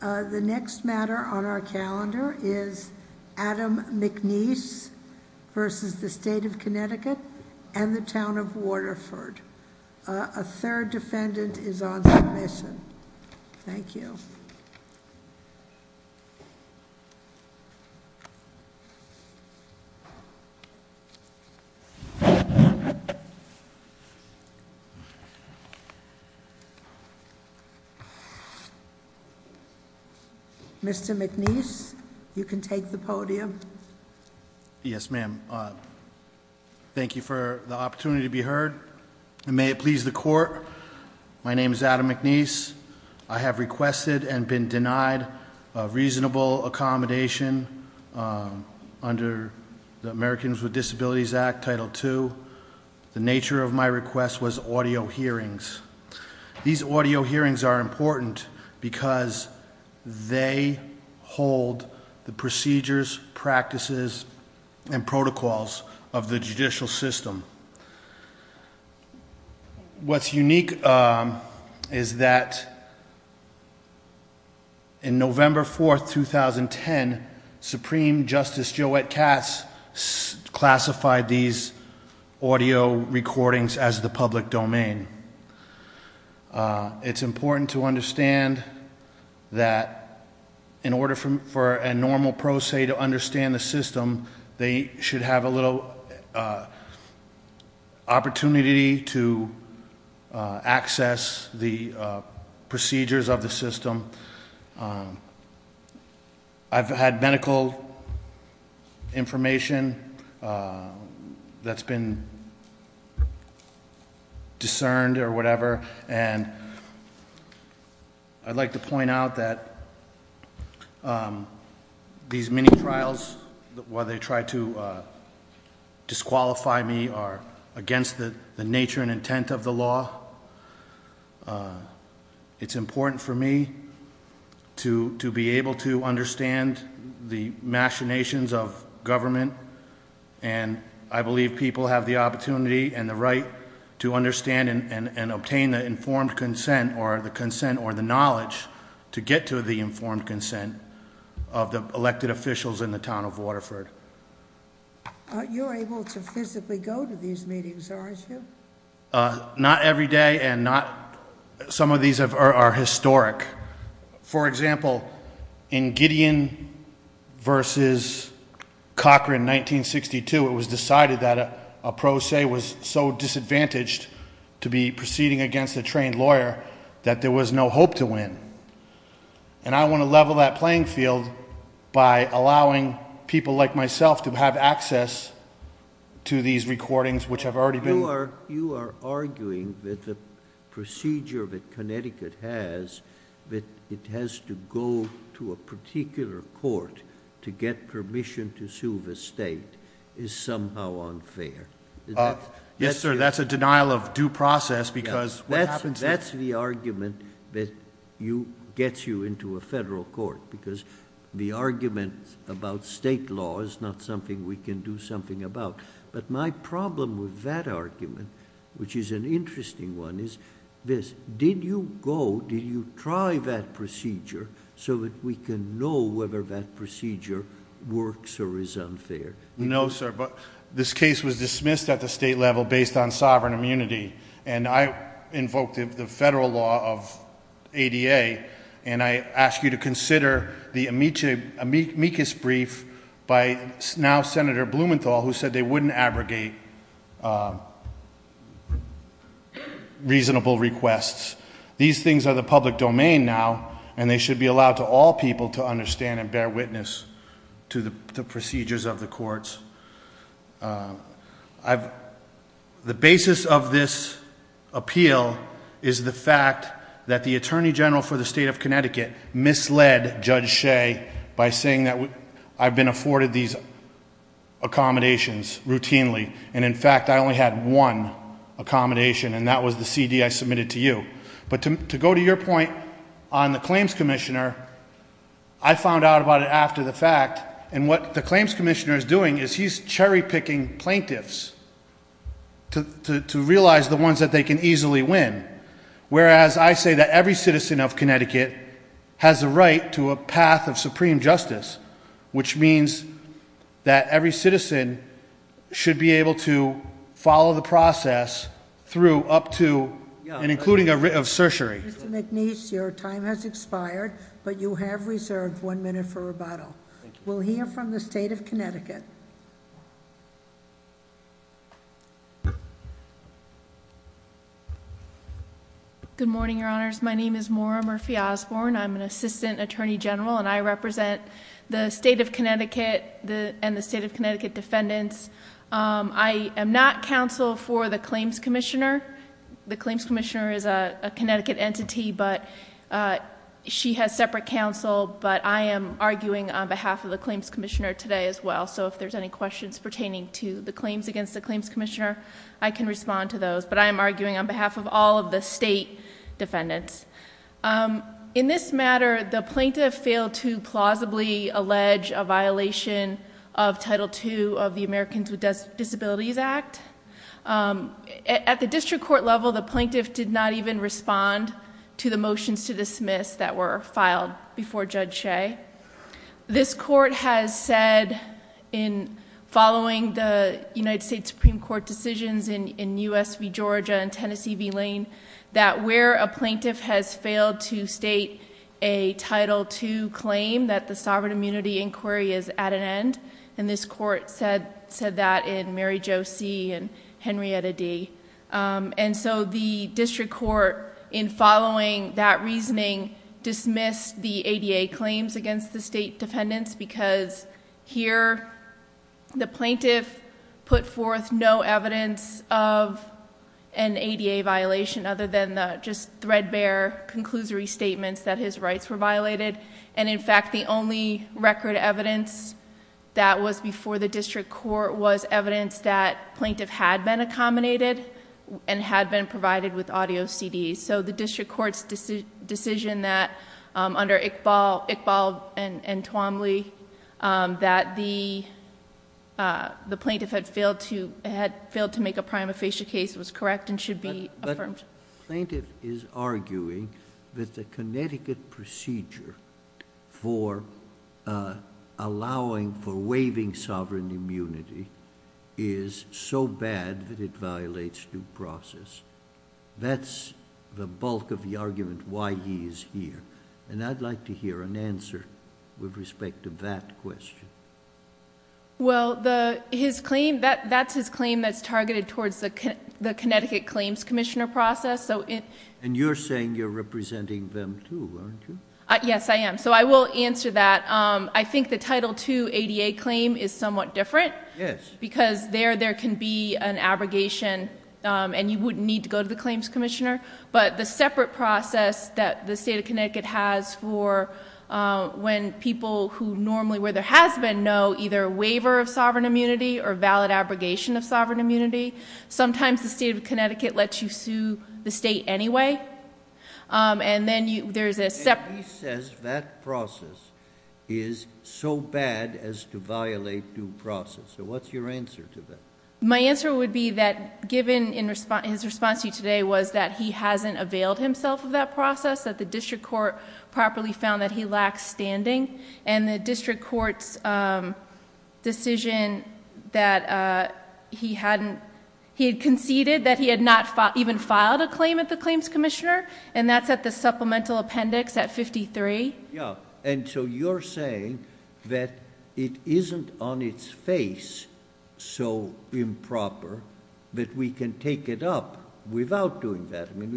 The next matter on our calendar is Adam McNiece v. State of Connecticut and the Town of Waterford. A third defendant is on submission. Thank you. Mr. McNiece, you can take the podium. Yes, ma'am. Thank you for the opportunity to be heard, and may it please the court. My name is Adam McNiece. I have requested and been denied a reasonable accommodation under the Americans with Disabilities Act, Title II. The nature of my request was audio hearings. These audio hearings are important because they hold the procedures, practices, and protocols of the judicial system. What's unique is that in November 4th, 2010, Supreme Justice Joette Katz classified these audio recordings as the public domain. It's important to understand that in order for a normal pro se to understand the system, they should have a little opportunity to access the procedures of the system. I've had medical information that's been discerned or whatever, and I'd like to point out that these mini-trials, where they try to disqualify me, are against the nature and intent of the law. It's important for me to be able to understand the machinations of government. And I believe people have the opportunity and the right to understand and obtain the informed consent or the knowledge to get to the informed consent of the elected officials in the town of Waterford. You're able to physically go to these meetings, aren't you? Not every day, and some of these are historic. For example, in Gideon versus Cochran in 1962 it was decided that a pro se was so disadvantaged to be proceeding against a trained lawyer that there was no hope to win. And I want to level that playing field by allowing people like myself to have access to these recordings which have already been- You are arguing that the procedure that Connecticut has, that it has to go to a particular court to get permission to sue the state, is somehow unfair. Is that- Yes, sir, that's a denial of due process because what happens- That's the argument that gets you into a federal court, because the argument about state law is not something we can do something about. But my problem with that argument, which is an interesting one, is this. Did you go, did you try that procedure so that we can know whether that procedure works or is unfair? No, sir, but this case was dismissed at the state level based on sovereign immunity. And I invoked the federal law of ADA, and I ask you to consider the amicus brief by now Senator Blumenthal, who said they wouldn't abrogate reasonable requests. These things are the public domain now, and they should be allowed to all people to understand and bear witness to the procedures of the courts. The basis of this appeal is the fact that the Attorney General for the state of Connecticut misled Judge Shea by saying that I've been afforded these accommodations routinely, and in fact I only had one accommodation, and that was the CD I submitted to you. But to go to your point on the claims commissioner, I found out about it after the fact. And what the claims commissioner is doing is he's cherry picking plaintiffs to realize the ones that they can easily win. Whereas I say that every citizen of Connecticut has a right to a path of supreme justice, which means that every citizen should be able to follow the process through up to and including a writ of certiorary. Mr. McNeice, your time has expired, but you have reserved one minute for rebuttal. We'll hear from the state of Connecticut. Good morning, your honors. My name is Maura Murphy Osborne. I'm an assistant attorney general, and I represent the state of Connecticut and the state of Connecticut defendants. I am not counsel for the claims commissioner. The claims commissioner is a Connecticut entity, but she has separate counsel, but I am arguing on behalf of the claims commissioner today as well. So if there's any questions pertaining to the claims against the claims commissioner, I can respond to those. But I am arguing on behalf of all of the state defendants. In this matter, the plaintiff failed to plausibly allege a violation of Title II of the Americans with Disabilities Act. At the district court level, the plaintiff did not even respond to the motions to dismiss that were filed before Judge Shea. This court has said in following the United States Supreme Court decisions in US v Georgia and has failed to state a Title II claim that the sovereign immunity inquiry is at an end. And this court said that in Mary Jo C and Henrietta D. And so the district court in following that reasoning dismissed the ADA claims against the state defendants because here the plaintiff put forth no evidence of an ADA violation, other than the just threadbare conclusory statements that his rights were violated. And in fact, the only record evidence that was before the district court was evidence that plaintiff had been accommodated and had been provided with audio CDs. So the district court's decision that under Iqbal and Twombly that the plaintiff had failed to make a prima facie case was correct and should be affirmed. Plaintiff is arguing that the Connecticut procedure for allowing for waiving sovereign immunity is so bad that it violates due process. That's the bulk of the argument why he's here. And I'd like to hear an answer with respect to that question. Well, his claim, that's his claim that's targeted towards the Connecticut Claims Commissioner process. And you're saying you're representing them too, aren't you? Yes, I am. So I will answer that. I think the Title II ADA claim is somewhat different. Yes. Because there, there can be an abrogation and you wouldn't need to go to the claims commissioner. But the separate process that the state of Connecticut has for when people who normally, where there has been no, either waiver of sovereign immunity or valid abrogation of sovereign immunity. Sometimes the state of Connecticut lets you sue the state anyway, and then there's a separate- And he says that process is so bad as to violate due process. So what's your answer to that? My answer would be that given his response to you today was that he hasn't availed himself of that process. That the district court properly found that he lacks standing. And the district court's decision that he hadn't, he had conceded that he had not even filed a claim at the claims commissioner. And that's at the supplemental appendix at 53. Yeah, and so you're saying that it isn't on its face so improper that we can take it up without doing that. I mean,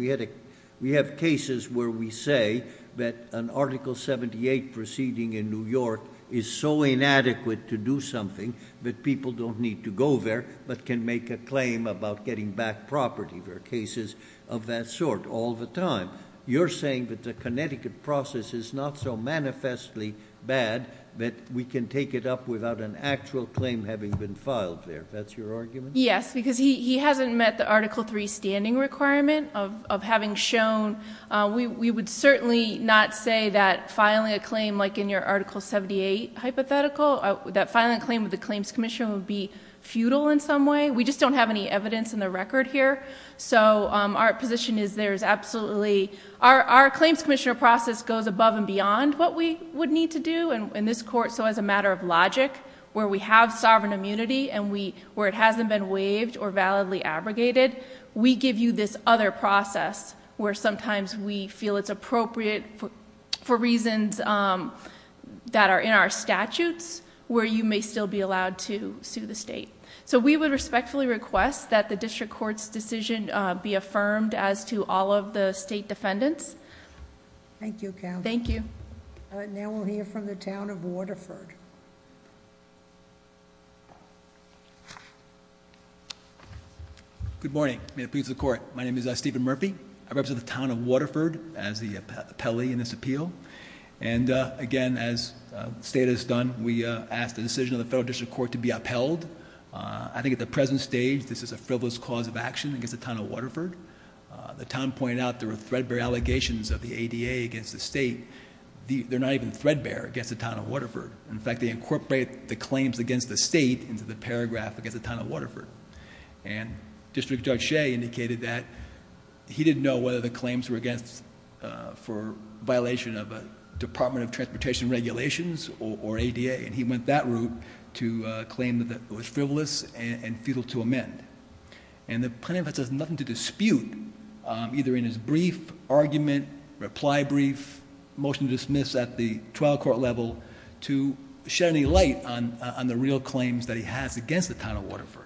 we have cases where we say that an Article 78 proceeding in New York is so inadequate to do something that people don't need to go there, but can make a claim about getting back property, there are cases of that sort all the time. You're saying that the Connecticut process is not so manifestly bad that we can take it up without an actual claim having been filed there, that's your argument? Yes, because he hasn't met the Article 3 standing requirement of having shown. We would certainly not say that filing a claim like in your Article 78 hypothetical, that filing a claim with the claims commissioner would be futile in some way. We just don't have any evidence in the record here. So our position is there is absolutely, our claims commissioner process goes above and beyond what we would need to do in this court, so as a matter of logic. Where we have sovereign immunity and where it hasn't been waived or validly abrogated, we give you this other process where sometimes we feel it's appropriate for reasons that are in our statutes, where you may still be allowed to sue the state. So we would respectfully request that the district court's decision be affirmed as to all of the state defendants. Thank you counsel. Thank you. Now we'll hear from the town of Waterford. Good morning, may it please the court. My name is Stephen Murphy. I represent the town of Waterford as the appellee in this appeal. And again, as the state has done, we ask the decision of the federal district court to be upheld. I think at the present stage, this is a frivolous cause of action against the town of Waterford. The town pointed out there were threadbare allegations of the ADA against the state. They're not even threadbare against the town of Waterford. In fact, they incorporate the claims against the state into the paragraph against the town of Waterford. And District Judge Shea indicated that he didn't know whether the claims were against for violation of a Department of Transportation regulations or ADA. And he went that route to claim that it was frivolous and futile to amend. And the plaintiff has nothing to dispute either in his brief argument, reply brief, motion to dismiss at the trial court level to shed any light on the real claims that he has against the town of Waterford.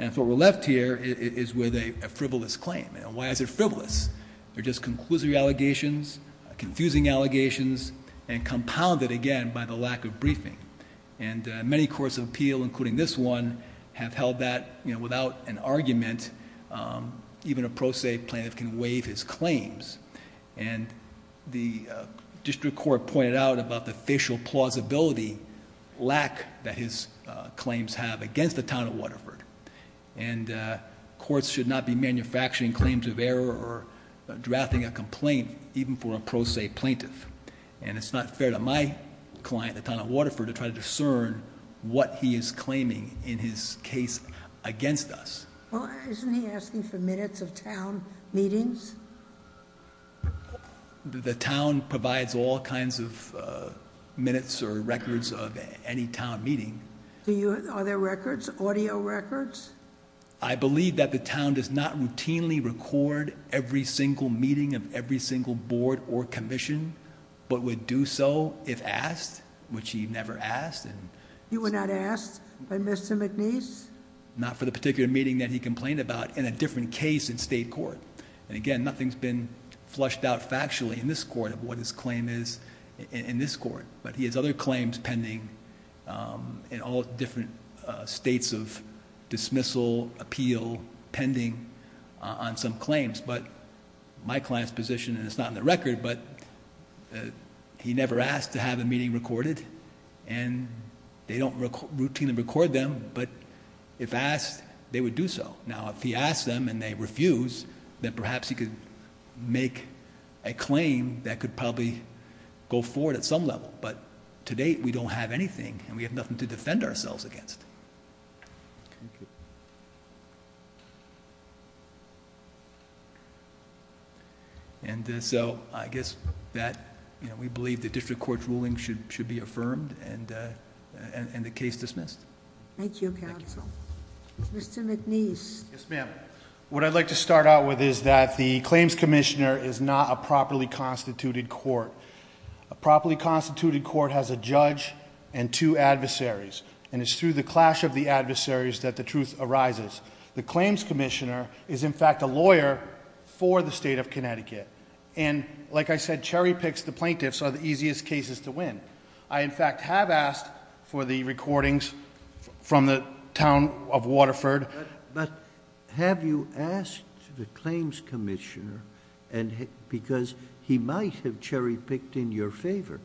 And so we're left here is with a frivolous claim. And why is it frivolous? They're just conclusive allegations, confusing allegations, and compounded again by the lack of briefing. And many courts of appeal, including this one, have held that without an argument, even a pro se plaintiff can waive his claims. And the district court pointed out about the official plausibility lack that his claims have against the town of Waterford. And courts should not be manufacturing claims of error or drafting a complaint even for a pro se plaintiff. And it's not fair to my client, the town of Waterford, to try to discern what he is claiming in his case against us. Well, isn't he asking for minutes of town meetings? The town provides all kinds of minutes or records of any town meeting. Are there records, audio records? I believe that the town does not routinely record every single meeting of every single board or commission, but would do so if asked, which he never asked. You were not asked by Mr. McNeice? Not for the particular meeting that he complained about in a different case in state court. And again, nothing's been flushed out factually in this court of what his claim is in this court. But he has other claims pending in all different states of dismissal, appeal, pending on some claims. But my client's position, and it's not in the record, but he never asked to have a meeting recorded. And they don't routinely record them, but if asked, they would do so. Now, if he asks them and they refuse, then perhaps he could make a claim that could probably go forward at some level. But to date, we don't have anything, and we have nothing to defend ourselves against. And so, I guess that we believe the district court's ruling should be affirmed and the case dismissed. Thank you, counsel. Mr. McNeice. Yes, ma'am. What I'd like to start out with is that the claims commissioner is not a properly constituted court. A properly constituted court has a judge and two adversaries, and it's through the clash of the adversaries that the truth arises. The claims commissioner is, in fact, a lawyer for the state of Connecticut. And like I said, cherry picks, the plaintiffs are the easiest cases to win. I, in fact, have asked for the recordings from the town of Waterford. But have you asked the claims commissioner, because he might have cherry picked in your favor.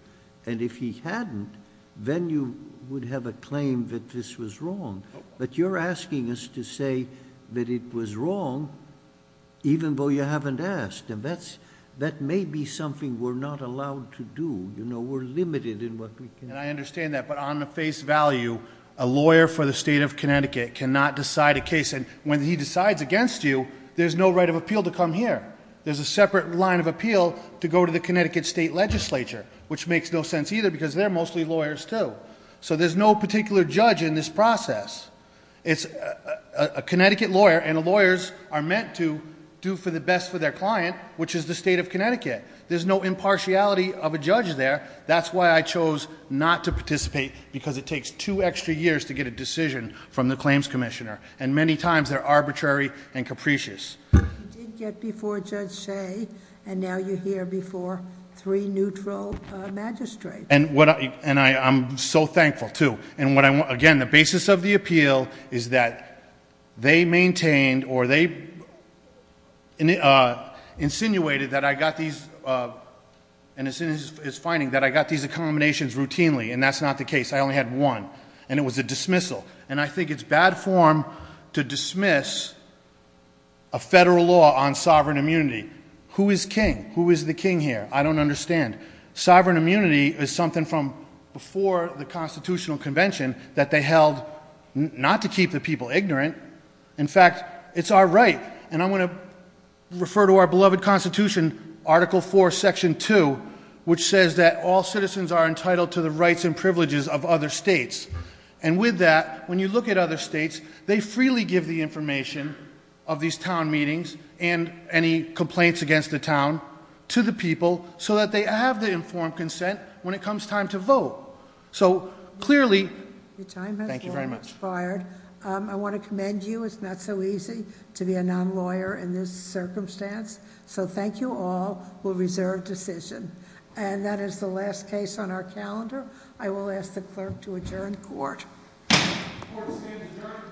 And if he hadn't, then you would have a claim that this was wrong. But you're asking us to say that it was wrong, even though you haven't asked. And that may be something we're not allowed to do. We're limited in what we can do. And I understand that, but on the face value, a lawyer for the state of Connecticut cannot decide a case. And when he decides against you, there's no right of appeal to come here. There's a separate line of appeal to go to the Connecticut State Legislature, which makes no sense either, because they're mostly lawyers too. So there's no particular judge in this process. It's a Connecticut lawyer, and the lawyers are meant to do for the best for their client, which is the state of Connecticut. There's no impartiality of a judge there. That's why I chose not to participate, because it takes two extra years to get a decision from the claims commissioner. And many times, they're arbitrary and capricious. You did get before Judge Shea, and now you're here before three neutral magistrates. And I'm so thankful too. And again, the basis of the appeal is that they maintained or they insinuated that I got these, and it's finding that I got these accommodations routinely, and that's not the case. I only had one, and it was a dismissal. And I think it's bad form to dismiss a federal law on sovereign immunity. Who is king? Who is the king here? I don't understand. Sovereign immunity is something from before the Constitutional Convention that they held not to keep the people ignorant. In fact, it's our right, and I'm going to refer to our beloved Constitution, Article 4, Section 2, which says that all citizens are entitled to the rights and privileges of other states. And with that, when you look at other states, they freely give the information of these town meetings and any complaints against the town to the people so that they have the informed consent when it comes time to vote. So clearly- And you, it's not so easy to be a non-lawyer in this circumstance. So thank you all. We'll reserve decision. And that is the last case on our calendar. I will ask the clerk to adjourn court. Court is adjourned.